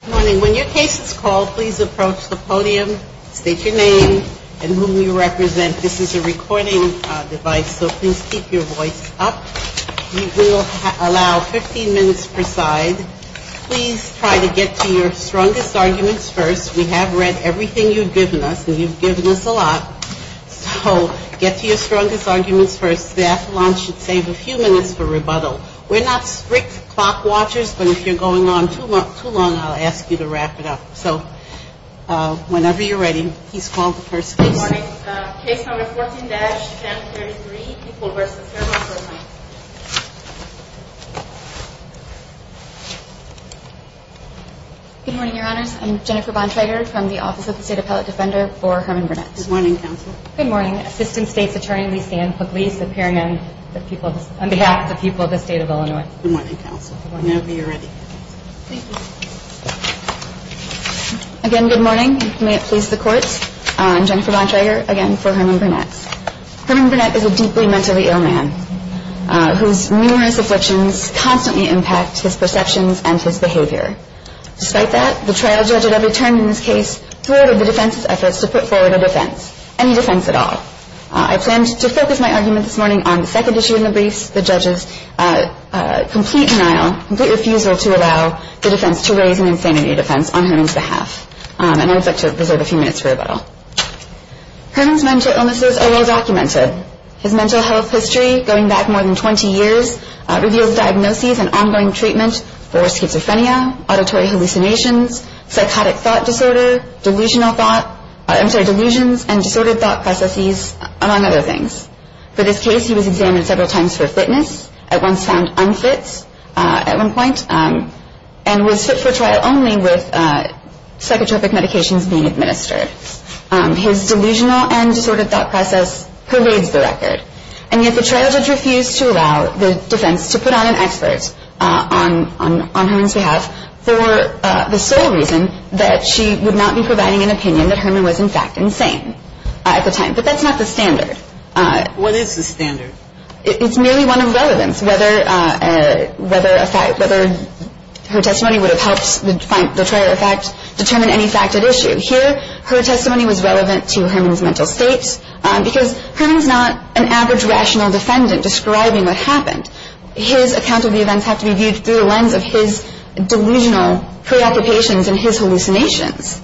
Good morning. When your case is called, please approach the podium, state your name, and whom you represent. This is a recording device, so please keep your voice up. We will allow 15 minutes per side. Please try to get to your strongest arguments first. We have read everything you've given us, and you've given us a lot. So get to your strongest arguments first. The athelon should save a few minutes for rebuttal. We're not strict clock watchers, but if you're going on too long, I'll ask you to stop. So whenever you're ready, please call the first case. Good morning. Case number 14-1033, People v. Herman Burnett. Good morning, Your Honors. I'm Jennifer Bonsiger from the Office of the State Appellate Defender for Herman Burnett. Good morning, Counsel. Good morning. Assistant State's Attorney, Lisanne Pugliese, appearing on behalf of the people of the state of Illinois. Good morning, Counsel. Whenever you're ready. Thank you. Again, good morning. May it please the Court. I'm Jennifer Bonsiger, again for Herman Burnett. Herman Burnett is a deeply mentally ill man whose numerous afflictions constantly impact his perceptions and his behavior. Despite that, the trial judge at every turn in this case thwarted the defense's efforts to put forward a defense, any defense at all. I planned to focus my argument this morning on the second issue in the briefs, the judge's complete denial, complete refusal to allow the defense to raise an insanity defense on Herman's behalf. And I would like to reserve a few minutes for rebuttal. Herman's mental illnesses are well-documented. His mental health history, going back more than 20 years, reveals diagnoses and ongoing treatment for schizophrenia, auditory hallucinations, psychotic thought disorder, delusional thought, I'm sorry, delusions and disordered thought processes, among other things. For this case, he was examined several times for fitness, at once found unfit at one point, and was fit for trial only with psychotropic medications being administered. His delusional and disordered thought process parades the record. And yet the trial judge refused to allow the defense to put on an expert on Herman's behalf for the sole reason that she would not be providing an opinion that Herman was, in fact, insane at the time. But that's not the standard. What is the standard? It's merely one of relevance, whether her testimony would have helped the trial effect determine any fact at issue. Here, her testimony was relevant to Herman's mental state, because Herman's not an average rational defendant describing what happened. His account of the events have to be viewed through the lens of his delusional preoccupations and his hallucinations.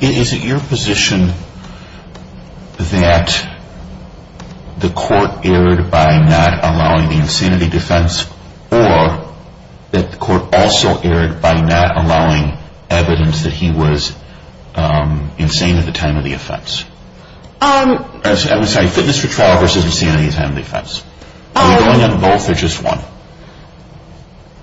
Is it your position that the court erred by not allowing the insanity defense, or that the court also erred by not allowing evidence that he was insane at the time of the offense? I'm sorry, fitness for trial versus insanity at the time of the offense. Are you going on both or just one?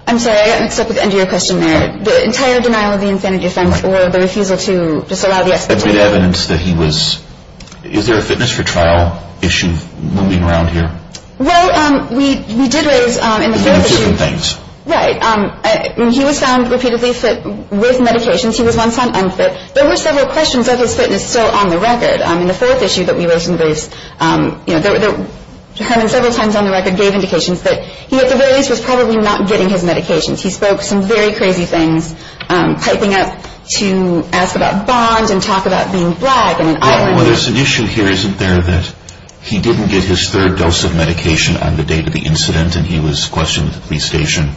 I'm sorry, I got mixed up with the end of your question there. The entire denial of the insanity defense or the refusal to disallow the expert opinion. But did evidence that he was – is there a fitness for trial issue moving around here? Well, we did raise in the first issue – Different things. Right. He was found repeatedly fit with medications. He was once found unfit. There were several questions of his fitness still on the record. In the fourth issue that we raised in the briefs, Herman several times on the record gave indications that he at the very least was probably not getting his medications. He spoke some very crazy things, piping up to ask about bonds and talk about being black and an islander. Well, there's an issue here, isn't there, that he didn't get his third dose of medication on the date of the incident and he was questioned at the police station.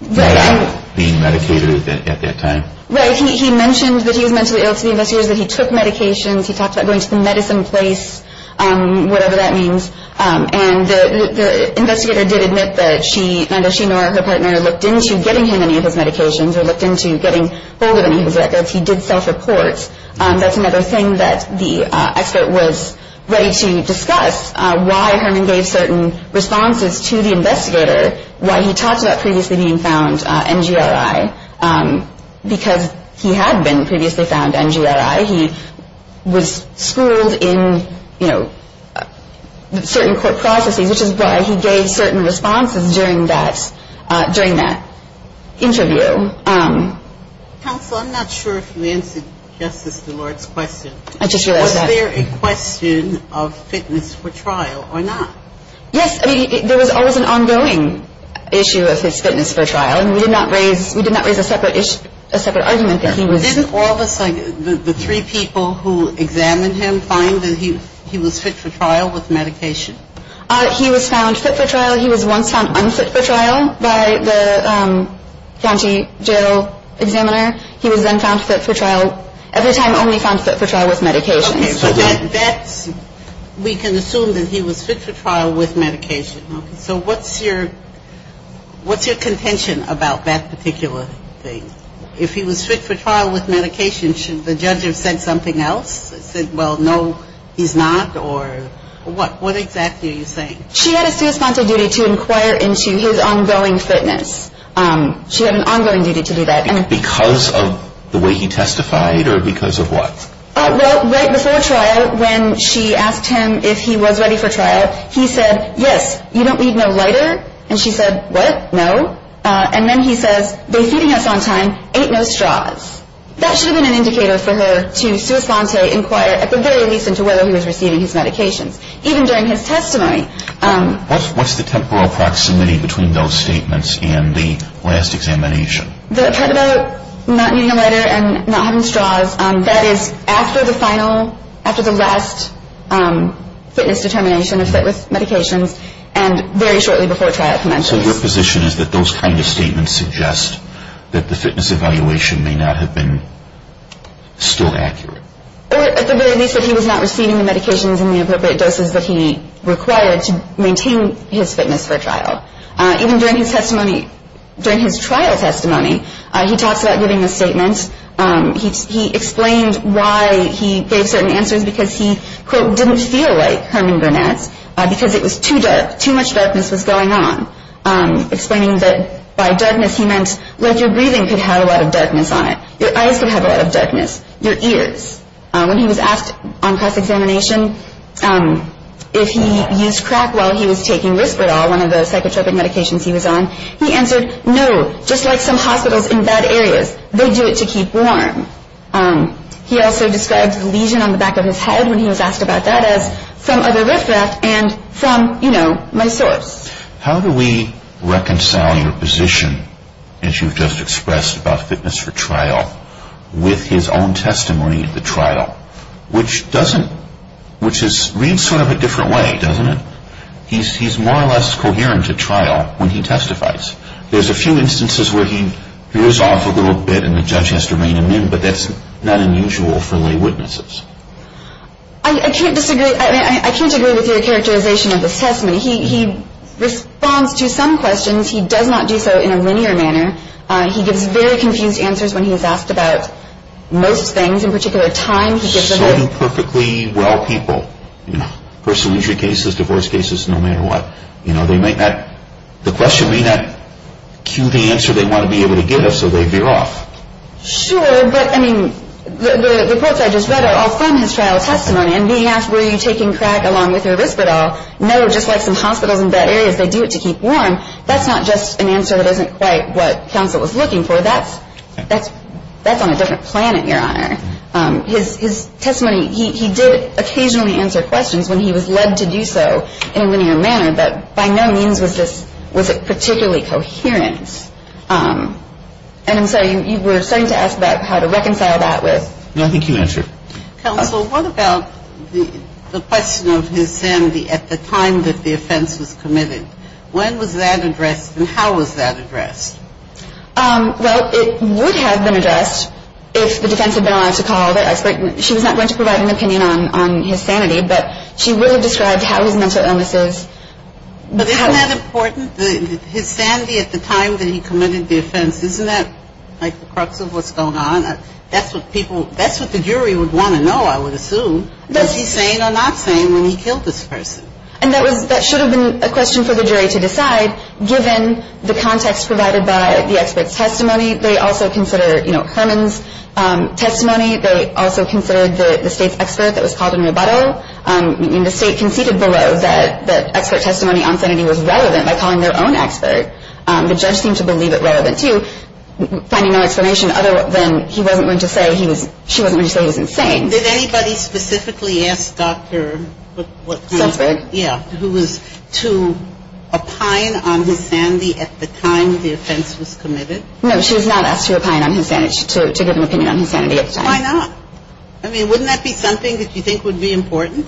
Right. Not being medicated at that time. Right. He mentioned that he was mentally ill to the investigators, that he took medications. He talked about going to the medicine place, whatever that means. And the investigator did admit that she – neither she nor her partner looked into getting him any of his medications or looked into getting hold of any of his records. He did self-report. That's another thing that the expert was ready to discuss, why Herman gave certain responses to the investigator, why he talked about previously being found NGRI, because he had been previously found NGRI. He was schooled in, you know, certain court processes, which is why he gave certain responses during that interview. Counsel, I'm not sure if you answered Justice DeLort's question. I just realized that. Was there a question of fitness for trial or not? Yes. I mean, there was always an ongoing issue of his fitness for trial, and we did not raise a separate argument that he was – Didn't all the three people who examined him find that he was fit for trial with medication? He was found fit for trial. He was found fit for trial by the county jail examiner. He was then found fit for trial – every time only found fit for trial with medication. Okay. So that's – we can assume that he was fit for trial with medication. Okay. So what's your – what's your contention about that particular thing? If he was fit for trial with medication, should the judge have said something else, said, well, no, he's not, or what? What exactly are you saying? She had a sua sponte duty to inquire into his ongoing fitness. She had an ongoing duty to do that. Because of the way he testified or because of what? Well, right before trial, when she asked him if he was ready for trial, he said, yes, you don't need no lighter, and she said, what, no? And then he says, they're feeding us on time, ain't no straws. That should have been an indicator for her to sua sponte inquire, at the very least, into whether he was receiving his medications. Even during his testimony. What's the temporal proximity between those statements and the last examination? The part about not needing a lighter and not having straws, that is after the final – after the last fitness determination of fit with medications and very shortly before trial commences. So your position is that those kind of statements suggest that the fitness evaluation may not have been still accurate? Or, at the very least, that he was not receiving the medications and the appropriate doses that he required to maintain his fitness for trial. Even during his testimony – during his trial testimony, he talks about giving a statement. He explained why he gave certain answers, because he, quote, didn't feel like Herman Burnett, because it was too dark, too much darkness was going on. Explaining that by darkness he meant, like, your breathing could have a lot of darkness on it. Your eyes could have a lot of darkness. Your ears. When he was asked on cross-examination if he used crack while he was taking Risperdal, one of the psychotropic medications he was on, he answered, no, just like some hospitals in bad areas, they do it to keep warm. He also described the lesion on the back of his head when he was asked about that as from other riffraff and from, you know, my source. How do we reconcile your position, as you've just expressed, about fitness for trial, with his own testimony at the trial? Which doesn't – which reads sort of a different way, doesn't it? He's more or less coherent at trial when he testifies. There's a few instances where he rears off a little bit and the judge has to rein him in, but that's not unusual for lay witnesses. I can't disagree – I mean, I can't agree with your characterization of his testimony. He responds to some questions. He does not do so in a linear manner. He gives very confused answers when he's asked about most things, in particular time. So do perfectly well people, you know, personal injury cases, divorce cases, no matter what. You know, they may not – the question may not cue the answer they want to be able to give, so they veer off. Sure, but, I mean, the reports I just read are all from his trial testimony, and being asked, were you taking crack along with your Risperdal? No, just like some hospitals in bed areas, they do it to keep warm. That's not just an answer that isn't quite what counsel was looking for. That's on a different planet, Your Honor. His testimony – he did occasionally answer questions when he was led to do so in a linear manner, but by no means was this – was it particularly coherent. And I'm sorry, you were starting to ask about how to reconcile that with – No, I think you answered. Counsel, what about the question of his sanity at the time that the offense was committed? When was that addressed, and how was that addressed? Well, it would have been addressed if the defense had been allowed to call. She was not going to provide an opinion on his sanity, but she would have described how his mental illness is. But isn't that important? His sanity at the time that he committed the offense, isn't that like the crux of what's going on? That's what people – that's what the jury would want to know, I would assume, was he sane or not sane when he killed this person. And that was – that should have been a question for the jury to decide, given the context provided by the expert's testimony. They also consider, you know, Herman's testimony. They also considered the State's expert that was called in rebuttal. I mean, the State conceded below that expert testimony on sanity was relevant by calling their own expert. The judge seemed to believe it relevant, too, finding no explanation other than he wasn't going to say he was – she wasn't going to say he was insane. Did anybody specifically ask Dr. what kind of – Salzberg. Yeah, who was to opine on his sanity at the time the offense was committed? No, she was not asked to opine on his sanity. She – to give an opinion on his sanity at the time. Why not? I mean, wouldn't that be something that you think would be important?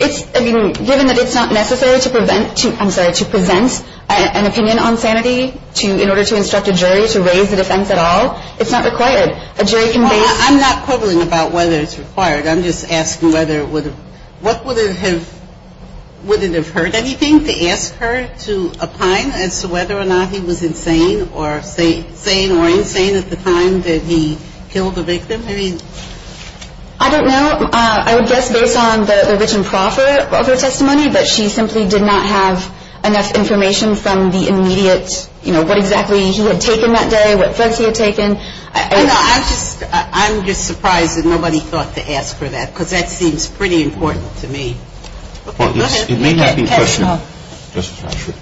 It's – I mean, given that it's not necessary to prevent – I'm sorry – to present an opinion on sanity to – in order to instruct a jury to raise the defense at all. It's not required. A jury can base – I'm not quibbling about whether it's required. I'm just asking whether it would have – what would it have – would it have hurt anything to ask her to opine as to whether or not he was insane or – sane or insane at the time that he killed the victim? I mean – I don't know. I would guess based on the written proffer of her testimony that she simply did not have enough information from the immediate – you know, what exactly he had taken that day, what drugs he had taken. I'm just – I'm just surprised that nobody thought to ask her that because that seems pretty important to me. Okay. Go ahead. It may not be a question. Justice Marshall.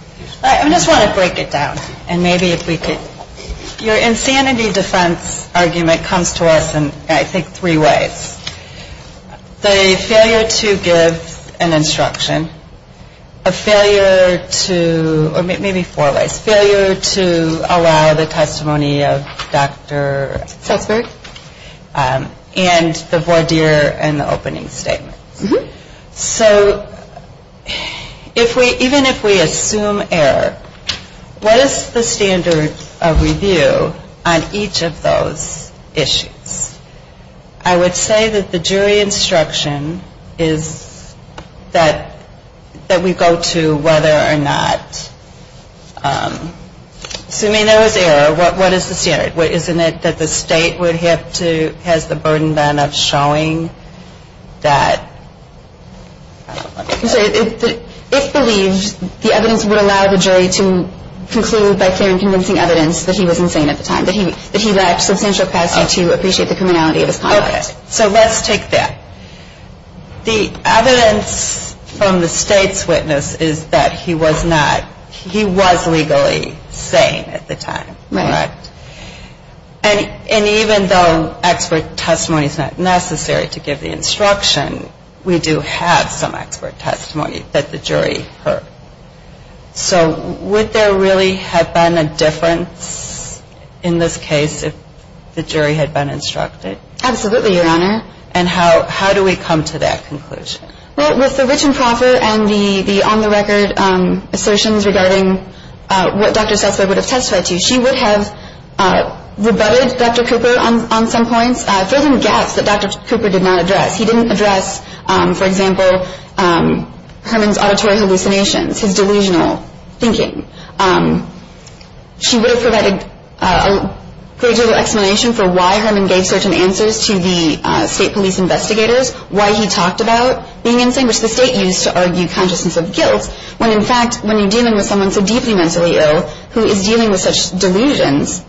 I just want to break it down and maybe if we could – your insanity defense argument comes to us in I think three ways. The failure to give an instruction, a failure to – or maybe four ways. Failure to allow the testimony of Dr. Sussberg and the voir dire and the opening statements. So if we – even if we assume error, what is the standard of review on each of those issues? I would say that the jury instruction is that we go to whether or not – assuming there was error, what is the standard? Isn't it that the state would have to – has the burden then of showing that – If believed, the evidence would allow the jury to conclude by clear and convincing evidence that he was insane at the time, that he lacked substantial capacity to appreciate the criminality of his conduct. Okay. So let's take that. The evidence from the state's witness is that he was not – he was legally sane at the time. Right. Correct. And even though expert testimony is not necessary to give the instruction, we do have some expert testimony that the jury heard. So would there really have been a difference in this case if the jury had been instructed? Absolutely, Your Honor. And how do we come to that conclusion? Well, with the written proffer and the on-the-record assertions regarding what Dr. Sussberg would have testified to, she would have rebutted Dr. Cooper on some points, filled in gaps that Dr. Cooper did not address. He didn't address, for example, Herman's auditory hallucinations, his delusional thinking. She would have provided a gradual explanation for why Herman gave certain answers to the state police investigators, why he talked about being insane, which the state used to argue consciousness of guilt, when, in fact, when you're dealing with someone so deeply mentally ill, who is dealing with such delusions,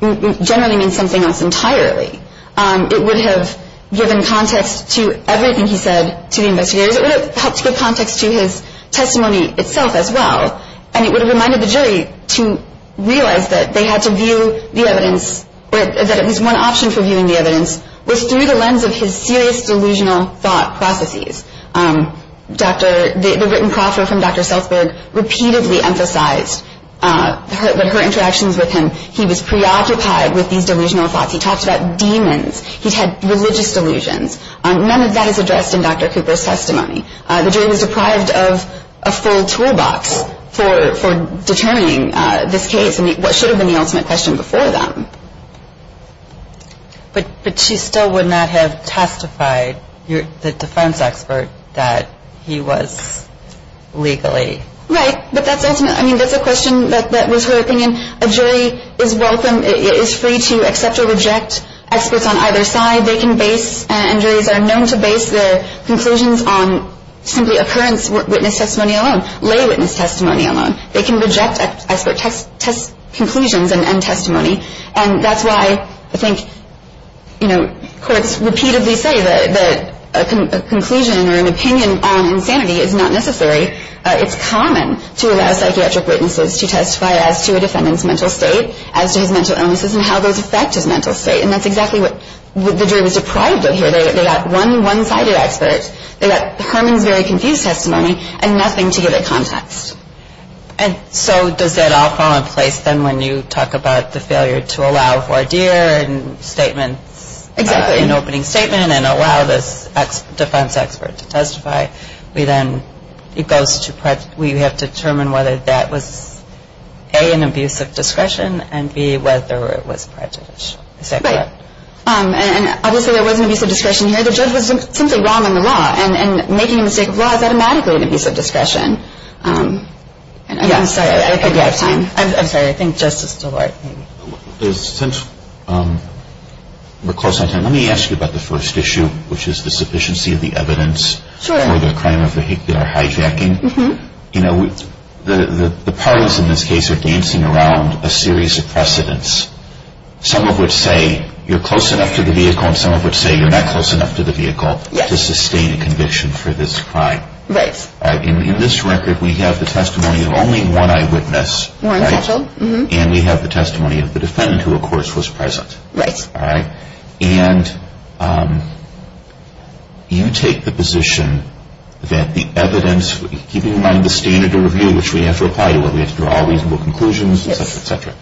generally means something else entirely. It would have given context to everything he said to the investigators. It would have helped to give context to his testimony itself as well. And it would have reminded the jury to realize that they had to view the evidence, or that at least one option for viewing the evidence was through the lens of his serious delusional thought processes. The written proffer from Dr. Sussberg repeatedly emphasized her interactions with him. He was preoccupied with these delusional thoughts. He talked about demons. He had religious delusions. None of that is addressed in Dr. Cooper's testimony. The jury was deprived of a full toolbox for determining this case and what should have been the ultimate question before them. But she still would not have testified, the defense expert, that he was legally. Right. But that's ultimate. I mean, that's a question that was her opinion. A jury is welcome, is free to accept or reject experts on either side. They can base, and juries are known to base their conclusions on simply occurrence witness testimony alone, lay witness testimony alone. They can reject expert test conclusions and testimony. And that's why I think, you know, courts repeatedly say that a conclusion or an opinion on insanity is not necessary. It's common to allow psychiatric witnesses to testify as to a defendant's mental state, as to his mental illnesses, and how those affect his mental state. And that's exactly what the jury was deprived of here. They got one one-sided expert. They got Herman's very confused testimony and nothing to give it context. And so does that all fall in place then when you talk about the failure to allow voir dire and statements, an opening statement, and allow this defense expert to testify? We then, it goes to, we have to determine whether that was A, an abuse of discretion, and B, whether it was prejudice. Is that correct? Right. And obviously there was an abuse of discretion here. The judge was simply wrong in the law. And making a mistake of law is automatically an abuse of discretion. I'm sorry. I think we're out of time. I'm sorry. I think Justice DeLoy. Since we're close on time, let me ask you about the first issue, which is the sufficiency of the evidence. Sure. For the crime of vehicular hijacking. You know, the parties in this case are dancing around a series of precedents. Some of which say you're close enough to the vehicle and some of which say you're not close enough to the vehicle to sustain a conviction for this crime. Right. In this record, we have the testimony of only one eyewitness. Warren Mitchell. And we have the testimony of the defendant who, of course, was present. Right. And you take the position that the evidence, keeping in mind the standard of review, which we have to apply to it, we have to draw reasonable conclusions, et cetera, et cetera,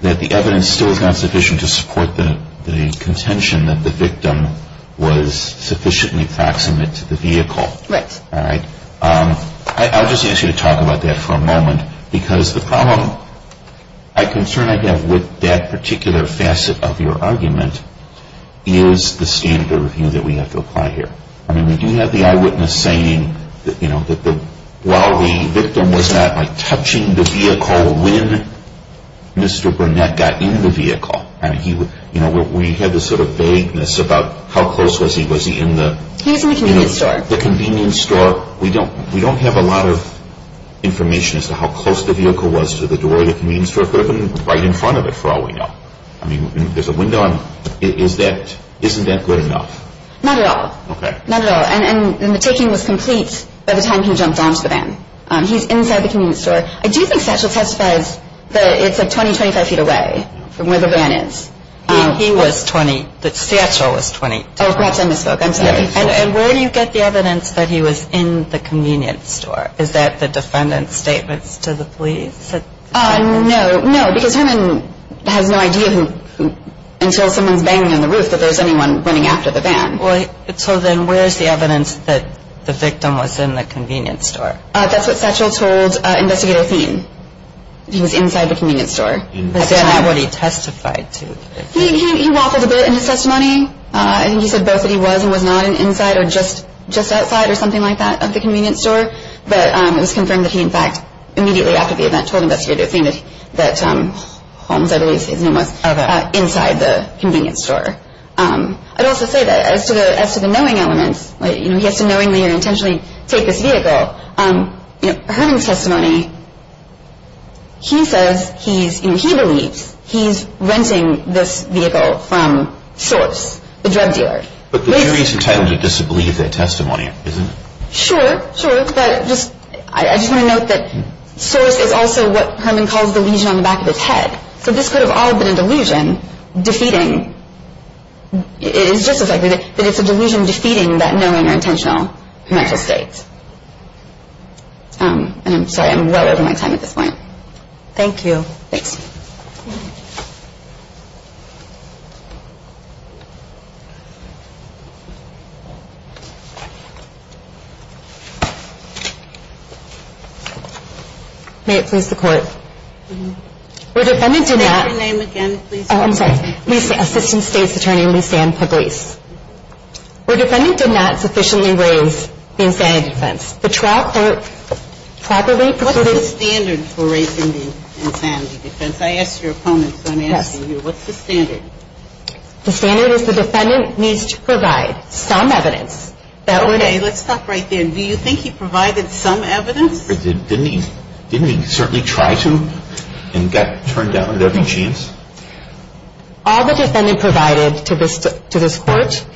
that the evidence still is not sufficient to support the contention that the victim was sufficiently proximate to the vehicle. Right. All right. I'll just ask you to talk about that for a moment. Because the problem I concern I have with that particular facet of your argument is the standard of review that we have to apply here. I mean, we do have the eyewitness saying that, you know, that while the victim was not, like, touching the vehicle when Mr. Burnett got in the vehicle. I mean, you know, we had this sort of vagueness about how close was he. Was he in the? He was in the convenience store. The convenience store. We don't have a lot of information as to how close the vehicle was to the door of the convenience store. It could have been right in front of it, for all we know. I mean, there's a window on it. Isn't that good enough? Not at all. Okay. Not at all. And the taking was complete by the time he jumped onto the van. He's inside the convenience store. I do think Satchel testifies that it's, like, 20, 25 feet away from where the van is. He was 20. Satchel was 20. Oh, perhaps I misspoke. I'm sorry. And where do you get the evidence that he was in the convenience store? Is that the defendant's statements to the police? No. No, because Herman has no idea until someone's banging on the roof that there's anyone running after the van. So then where is the evidence that the victim was in the convenience store? That's what Satchel told Investigator Thien. He was inside the convenience store. Is that not what he testified to? He waffled a bit in his testimony. I think he said both that he was and was not inside or just outside or something like that of the convenience store. But it was confirmed that he, in fact, immediately after the event, told Investigator Thien that Holmes, I believe, is inside the convenience store. I'd also say that as to the knowing elements, like, you know, he has to knowingly or intentionally take this vehicle, you know, Herman's testimony, he says he's, you know, he believes he's renting this vehicle from Source, the drug dealer. But the jury's entitled to disbelieve their testimony, isn't it? Sure. Sure. But I just want to note that Source is also what Herman calls the lesion on the back of his head. So this could have all been a delusion defeating. It's just as likely that it's a delusion defeating that knowing or intentional mental state. And I'm sorry, I'm well over my time at this point. Thank you. Thanks. May it please the Court. The defendant did not. Say your name again, please. Oh, I'm sorry. Lisa. Assistant State's Attorney Lisa Ann Pugliese. The defendant did not sufficiently raise the insanity defense. The trial court probably. What's the standard for raising the insanity defense? I asked your opponent, so I'm asking you. Yes. What's the standard? The standard is the defendant needs to provide some evidence. Okay. Let's stop right there. Do you think he provided some evidence? Didn't he certainly try to and got turned down at every chance? All the defendant provided to this court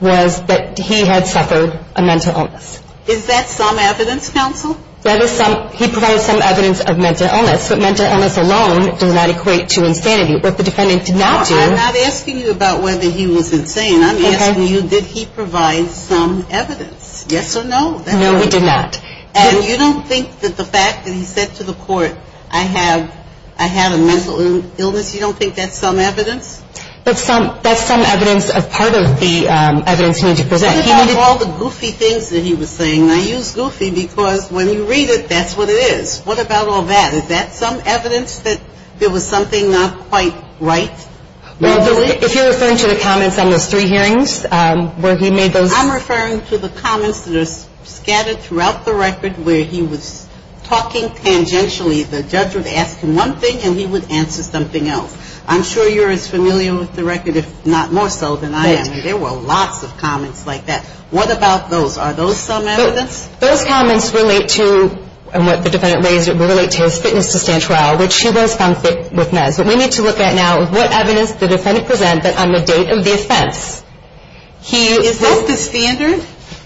was that he had suffered a mental illness. Is that some evidence, counsel? He provided some evidence of mental illness, but mental illness alone does not equate to insanity. What the defendant did not do. I'm not asking you about whether he was insane. I'm asking you did he provide some evidence? Yes or no? No, he did not. And you don't think that the fact that he said to the court, I have a mental illness, you don't think that's some evidence? That's some evidence of part of the evidence he needed to present. What about all the goofy things that he was saying? I use goofy because when you read it, that's what it is. What about all that? Is that some evidence that there was something not quite right? If you're referring to the comments on those three hearings where he made those. I'm referring to the comments that are scattered throughout the record where he was talking tangentially. The judge would ask him one thing and he would answer something else. I'm sure you're as familiar with the record, if not more so than I am. There were lots of comments like that. What about those? Are those some evidence? Those comments relate to, and what the defendant raised, relate to his fitness to stand trial, which he was found fit with meds. But we need to look at now what evidence the defendant presented on the date of the offense. Is that the standard?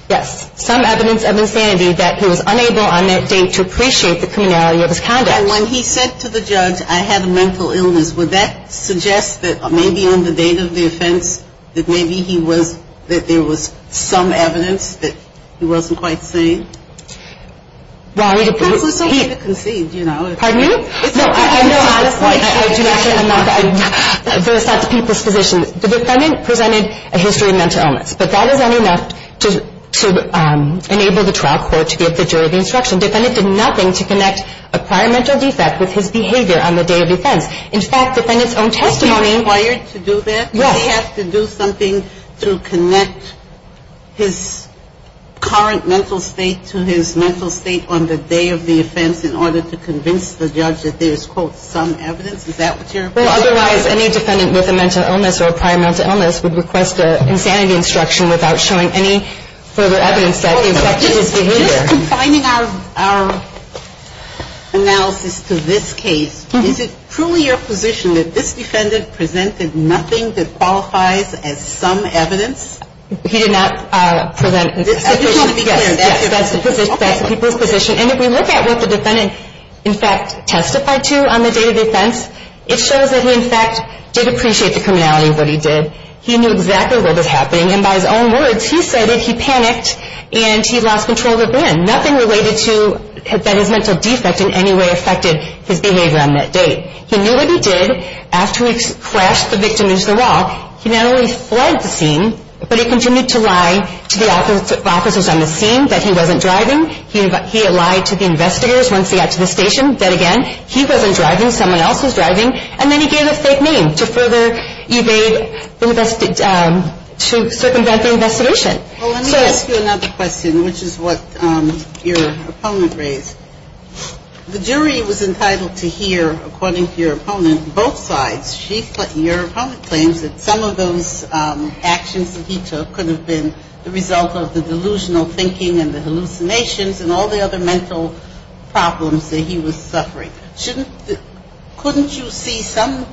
Yes. Some evidence of insanity that he was unable on that date to appreciate the criminality of his conduct. When he said to the judge, I have a mental illness, would that suggest that maybe on the date of the offense, that maybe he was, that there was some evidence that he wasn't quite sane? Well, it was okay to concede, you know. Pardon me? No, I do not say I'm not. That's not the people's position. The defendant presented a history of mental illness. But that is not enough to enable the trial court to give the jury the instruction. The defendant did nothing to connect a prior mental defect with his behavior on the day of the offense. In fact, the defendant's own testimony — Was he required to do that? Yes. Did he have to do something to connect his current mental state to his mental state on the day of the offense in order to convince the judge that there is, quote, some evidence? Is that what you're — Well, otherwise, any defendant with a mental illness or a prior mental illness would request an insanity instruction without showing any further evidence that he affected his behavior. Just confining our analysis to this case, is it truly your position that this defendant presented nothing that qualifies as some evidence? He did not present — I just want to be clear. That's the people's position. And if we look at what the defendant, in fact, testified to on the day of the offense, it shows that he, in fact, did appreciate the criminality of what he did. He knew exactly what was happening. And by his own words, he said that he panicked and he lost control of the van. Nothing related to that his mental defect in any way affected his behavior on that day. He knew what he did after he crashed the victim into the wall. He not only fled the scene, but he continued to lie to the officers on the scene that he wasn't driving. He lied to the investigators once he got to the station. Then again, he wasn't driving. Someone else was driving. And then he gave a fake name to further evade the invest — to circumvent the investigation. Well, let me ask you another question, which is what your opponent raised. The jury was entitled to hear, according to your opponent, both sides. Your opponent claims that some of those actions that he took could have been the result of the delusional thinking and the hallucinations and all the other mental problems that he was suffering. Shouldn't — couldn't you see some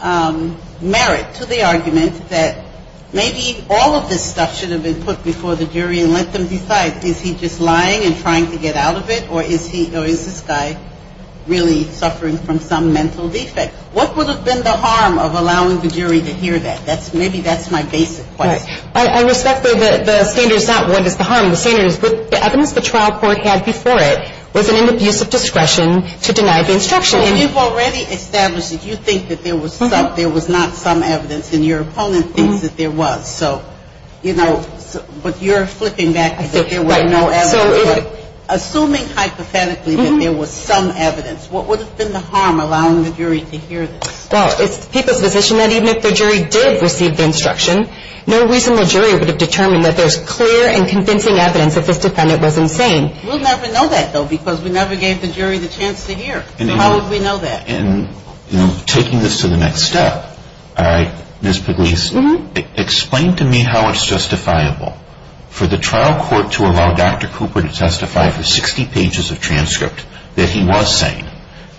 merit to the argument that maybe all of this stuff should have been put before the jury and let them decide, is he just lying and trying to get out of it, or is he — or is this guy really suffering from some mental defect? What would have been the harm of allowing the jury to hear that? That's — maybe that's my basic question. I respect that the standard is not what is the harm. The standard is the evidence the trial court had before it was an abuse of discretion to deny the instruction. And you've already established that you think that there was some — there was not some evidence, and your opponent thinks that there was. So, you know, but you're flipping back that there was no evidence. Right. But assuming hypothetically that there was some evidence, what would have been the harm of allowing the jury to hear this? Well, it's the people's position that even if the jury did receive the instruction, no reasonable jury would have determined that there's clear and convincing evidence that this defendant was insane. We'll never know that, though, because we never gave the jury the chance to hear. So how would we know that? And, you know, taking this to the next step, Ms. Pugliese, explain to me how it's justifiable for the trial court to allow Dr. Cooper to testify for 60 pages of transcript that he was sane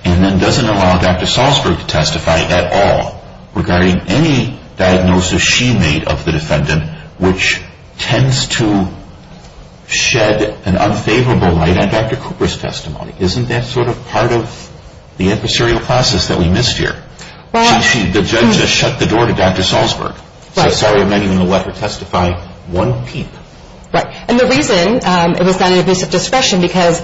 and then doesn't allow Dr. Salzberg to testify at all regarding any diagnosis she made of the defendant, which tends to shed an unfavorable light on Dr. Cooper's testimony. Isn't that sort of part of the adversarial process that we missed here? Well — The judge just shut the door to Dr. Salzberg. Right. Said, sorry, I'm not even going to let her testify one peep. And the reason it was not an abuse of discretion, because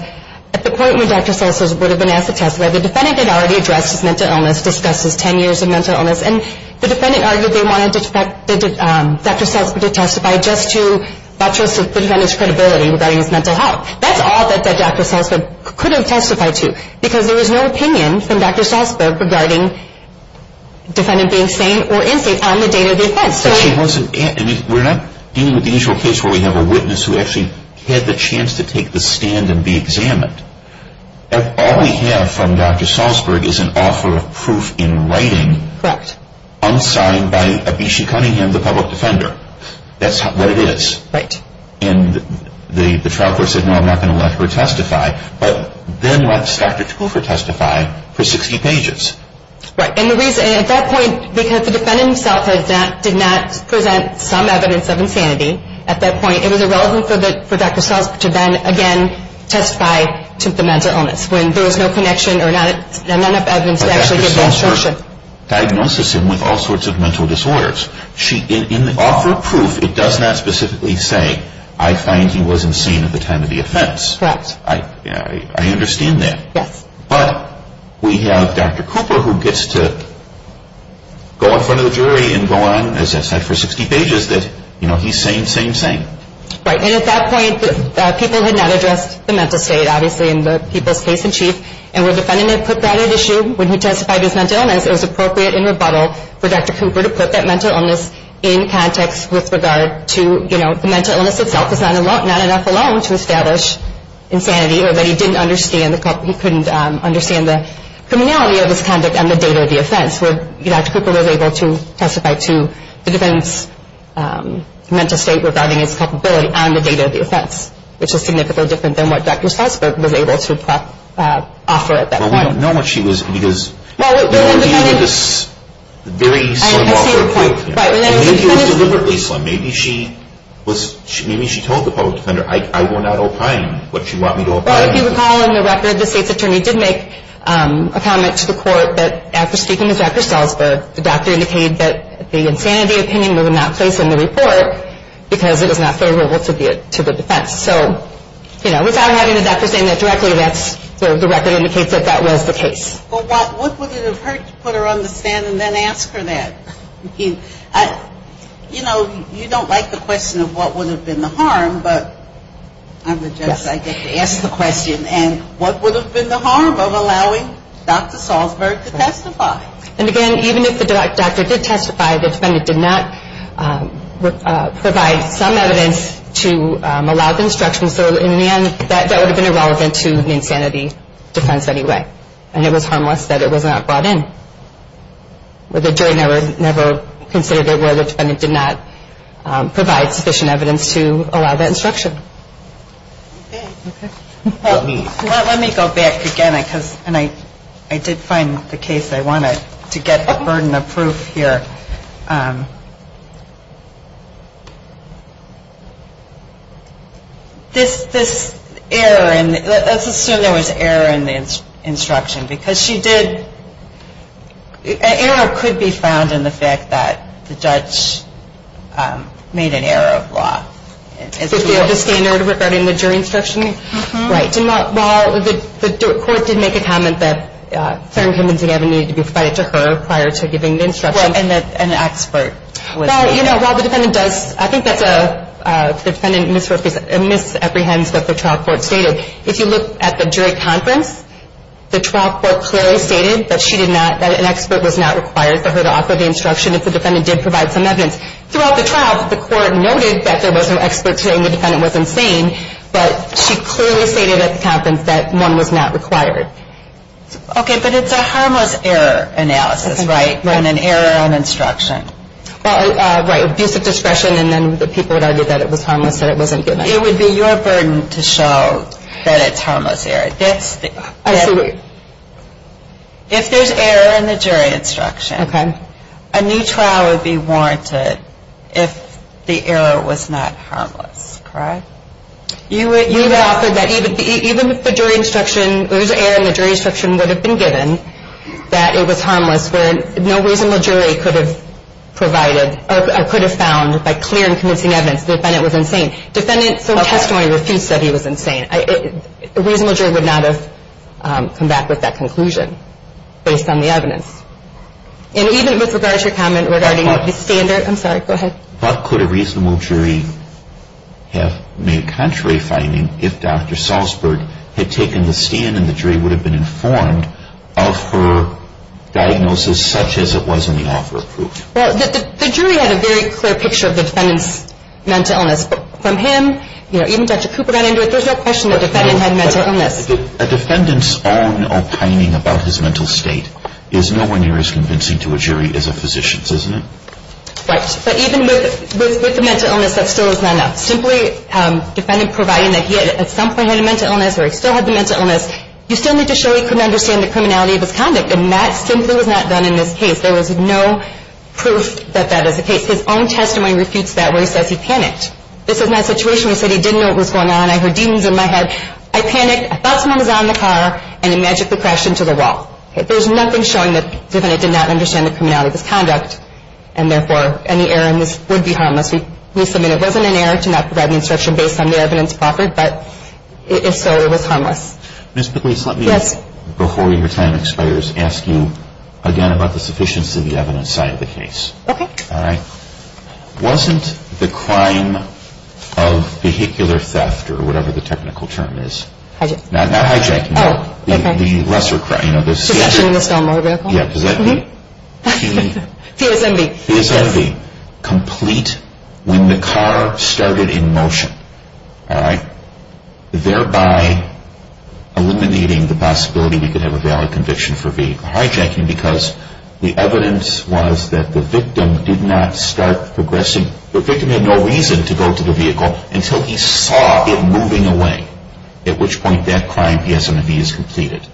at the point when Dr. Salzberg would have been asked to testify, the defendant had already addressed his mental illness, discussed his 10 years of mental illness, and the defendant argued they wanted Dr. Salzberg to testify just to buttress the defendant's credibility regarding his mental health. That's all that Dr. Salzberg could have testified to, because there was no opinion from Dr. Salzberg regarding the defendant being sane or insane on the date of the offense. We're not dealing with the initial case where we have a witness who actually had the chance to take the stand and be examined. All we have from Dr. Salzberg is an offer of proof in writing unsigned by Abishi Cunningham, the public defender. That's what it is. Right. And the trial court said, no, I'm not going to let her testify, but then lets Dr. Cooper testify for 60 pages. Right. And at that point, because the defendant himself did not present some evidence of insanity at that point, it was irrelevant for Dr. Salzberg to then again testify to the mental illness, when there was no connection or not enough evidence to actually give that assertion. But Dr. Salzberg diagnoses him with all sorts of mental disorders. In the offer of proof, it does not specifically say, I find he was insane at the time of the offense. Correct. I understand that. Yes. But we have Dr. Cooper who gets to go in front of the jury and go on, as I said, for 60 pages that he's sane, sane, sane. Right. And at that point, people had not addressed the mental state, obviously, in the people's case in chief, and when the defendant had put that at issue when he testified his mental illness, it was appropriate in rebuttal for Dr. Cooper to put that mental illness in context with regard to, you know, the mental illness itself is not enough alone to establish insanity or that he couldn't understand the criminality of his conduct and the date of the offense, where Dr. Cooper was able to testify to the defendant's mental state regarding his culpability and the date of the offense, which is significantly different than what Dr. Salzberg was able to offer at that point. Well, we don't know what she was – because – Well, the defendant –– the very slim offer of proof. I see your point. Right. Maybe it was deliberately slim. Maybe she was – maybe she told the public defender, I will not opine what you want me to opine. Well, if you recall in the record, the state's attorney did make a comment to the court that after speaking with Dr. Salzberg, the doctor indicated that the insanity opinion would not place in the report because it was not favorable to the defense. So, you know, without having the doctor saying that directly, that's – the record indicates that that was the case. Well, what would it have hurt to put her on the stand and then ask her that? You know, you don't like the question of what would have been the harm, but I'm going to just, I guess, ask the question. And what would have been the harm of allowing Dr. Salzberg to testify? And again, even if the doctor did testify, the defendant did not provide some evidence to allow the instruction. So in the end, that would have been irrelevant to the insanity defense anyway. And it was harmless that it was not brought in. Well, the jury never considered it where the defendant did not provide sufficient evidence to allow that instruction. Okay. Well, let me go back again because – and I did find the case I wanted to get a burden of proof here. This error in – let's assume there was an error in the instruction because she did – an error could be found in the fact that the judge made an error of law. The standard regarding the jury instruction? Right. Well, the court did make a comment that Sarah McKenzie Gavin needed to be provided to her prior to giving the instruction. Well, and that an expert was needed. Well, you know, while the defendant does – I think that's a – the defendant misrepresents – misapprehends what the trial court stated. If you look at the jury conference, the trial court clearly stated that she did not – that an expert was not required for her to offer the instruction if the defendant did provide some evidence. Throughout the trial, the court noted that there was no expert saying the defendant was insane, but she clearly stated at the conference that one was not required. Okay, but it's a harmless error analysis, right? And an error on instruction. Well, right. Abusive discretion and then the people would argue that it was harmless, that it wasn't given. It would be your burden to show that it's harmless error. That's the – I see what you're – If there's error in the jury instruction, a new trial would be warranted if the error was not harmless, correct? You would offer that even if the jury instruction –– that it was harmless, where no reasonable jury could have provided – or could have found by clear and convincing evidence the defendant was insane. Defendants of testimony refused that he was insane. A reasonable jury would not have come back with that conclusion based on the evidence. And even with regard to your comment regarding the standard – I'm sorry, go ahead. What could a reasonable jury have made contrary finding if Dr. Salzberg had taken the stand and the jury would have been informed of her diagnosis such as it was in the offer of proof? Well, the jury had a very clear picture of the defendant's mental illness. From him, you know, even Dr. Cooper got into it. There's no question the defendant had mental illness. A defendant's own opining about his mental state is nowhere near as convincing to a jury as a physician's, isn't it? Right. But even with the mental illness, that still is not enough. Simply a defendant providing that he at some point had a mental illness or he still had the mental illness, you still need to show he couldn't understand the criminality of his conduct. And that simply was not done in this case. There was no proof that that is the case. His own testimony refutes that where he says he panicked. This is my situation where he said he didn't know what was going on. I heard demons in my head. I panicked. I thought someone was out in the car and he magically crashed into the wall. There's nothing showing the defendant did not understand the criminality of his conduct and therefore any error in this would be harmless. We submit it wasn't an error to not provide an instruction based on the evidence proffered, but if so, it was harmless. Ms. Pugliese, let me, before your time expires, ask you again about the sufficiency of the evidence side of the case. Okay. All right. Wasn't the crime of vehicular theft or whatever the technical term is, not hijacking, the lesser crime, you know, the... Possession in a stowaway vehicle. Yeah. Does that mean... TSMV. TSMV. TSMV, complete when the car started in motion, all right? Thereby eliminating the possibility we could have a valid conviction for vehicular hijacking because the evidence was that the victim did not start progressing. The victim had no reason to go to the vehicle until he saw it moving away, at which point that crime, TSMV, is completed.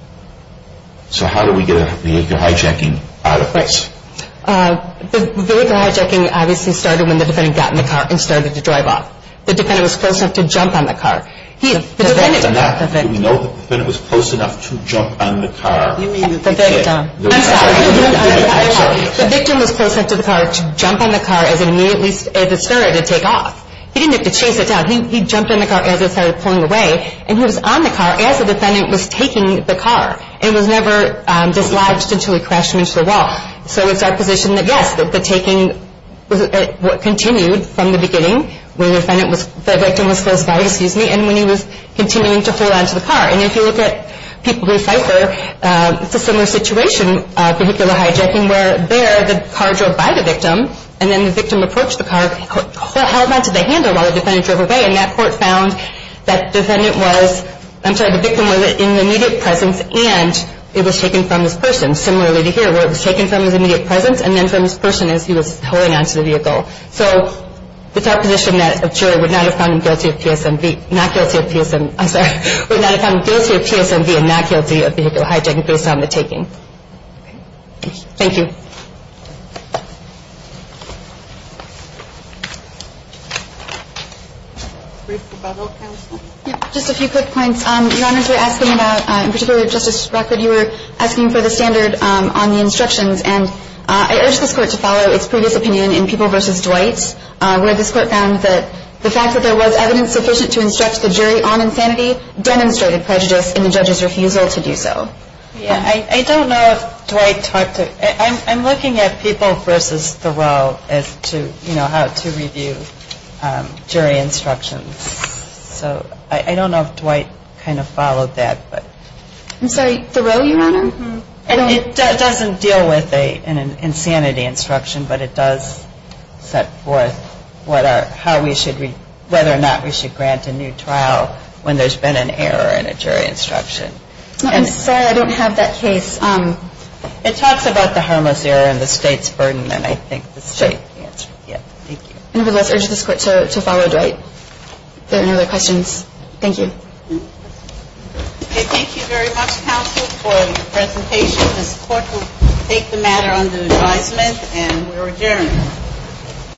So how do we get a vehicular hijacking out of this? The vehicular hijacking obviously started when the defendant got in the car and started to drive off. The defendant was close enough to jump on the car. The defendant... Do we know the defendant was close enough to jump on the car? You mean the victim. I'm sorry. The victim was close enough to the car to jump on the car as it started to take off. He didn't have to chase it down. He jumped on the car as it started pulling away, and he was on the car as the defendant was taking the car and was never dislodged until he crashed into the wall. So it's our position that, yes, the taking continued from the beginning when the victim was close by, excuse me, and when he was continuing to hold on to the car. And if you look at people who cipher, it's a similar situation, vehicular hijacking, where there the car drove by the victim, and then the victim approached the car, held on to the handle while the defendant drove away, and that court found that the victim was in the immediate presence and it was taken from this person. Similarly to here, where it was taken from his immediate presence and then from this person as he was holding on to the vehicle. So it's our position that a jury would not have found him guilty of PSMV, not guilty of PSM... I'm sorry, would not have found him guilty of PSMV and not guilty of vehicular hijacking based on the taking. Thank you. Brief rebuttal, counsel? Just a few quick points. Your Honors, we're asking about, in particular, Justice Rockford, you were asking for the standard on the instructions, and I urge this Court to follow its previous opinion in People v. Dwight, where this Court found that the fact that there was evidence sufficient to instruct the jury on insanity demonstrated prejudice in the judge's refusal to do so. Yeah, I don't know if Dwight talked to... I'm looking at People v. Thoreau as to, you know, how to review jury instructions. So I don't know if Dwight kind of followed that, but... I'm sorry, Thoreau, Your Honor? It doesn't deal with an insanity instruction, but it does set forth whether or not we should grant a new trial when there's been an error in a jury instruction. I'm sorry, I don't have that case. It talks about the harmless error and the State's burden, and I think the State... Sure. Yeah, thank you. Nevertheless, I urge this Court to follow Dwight. If there are no other questions, thank you. Okay, thank you very much, counsel, for your presentation. This Court will take the matter under advisement, and we are adjourned.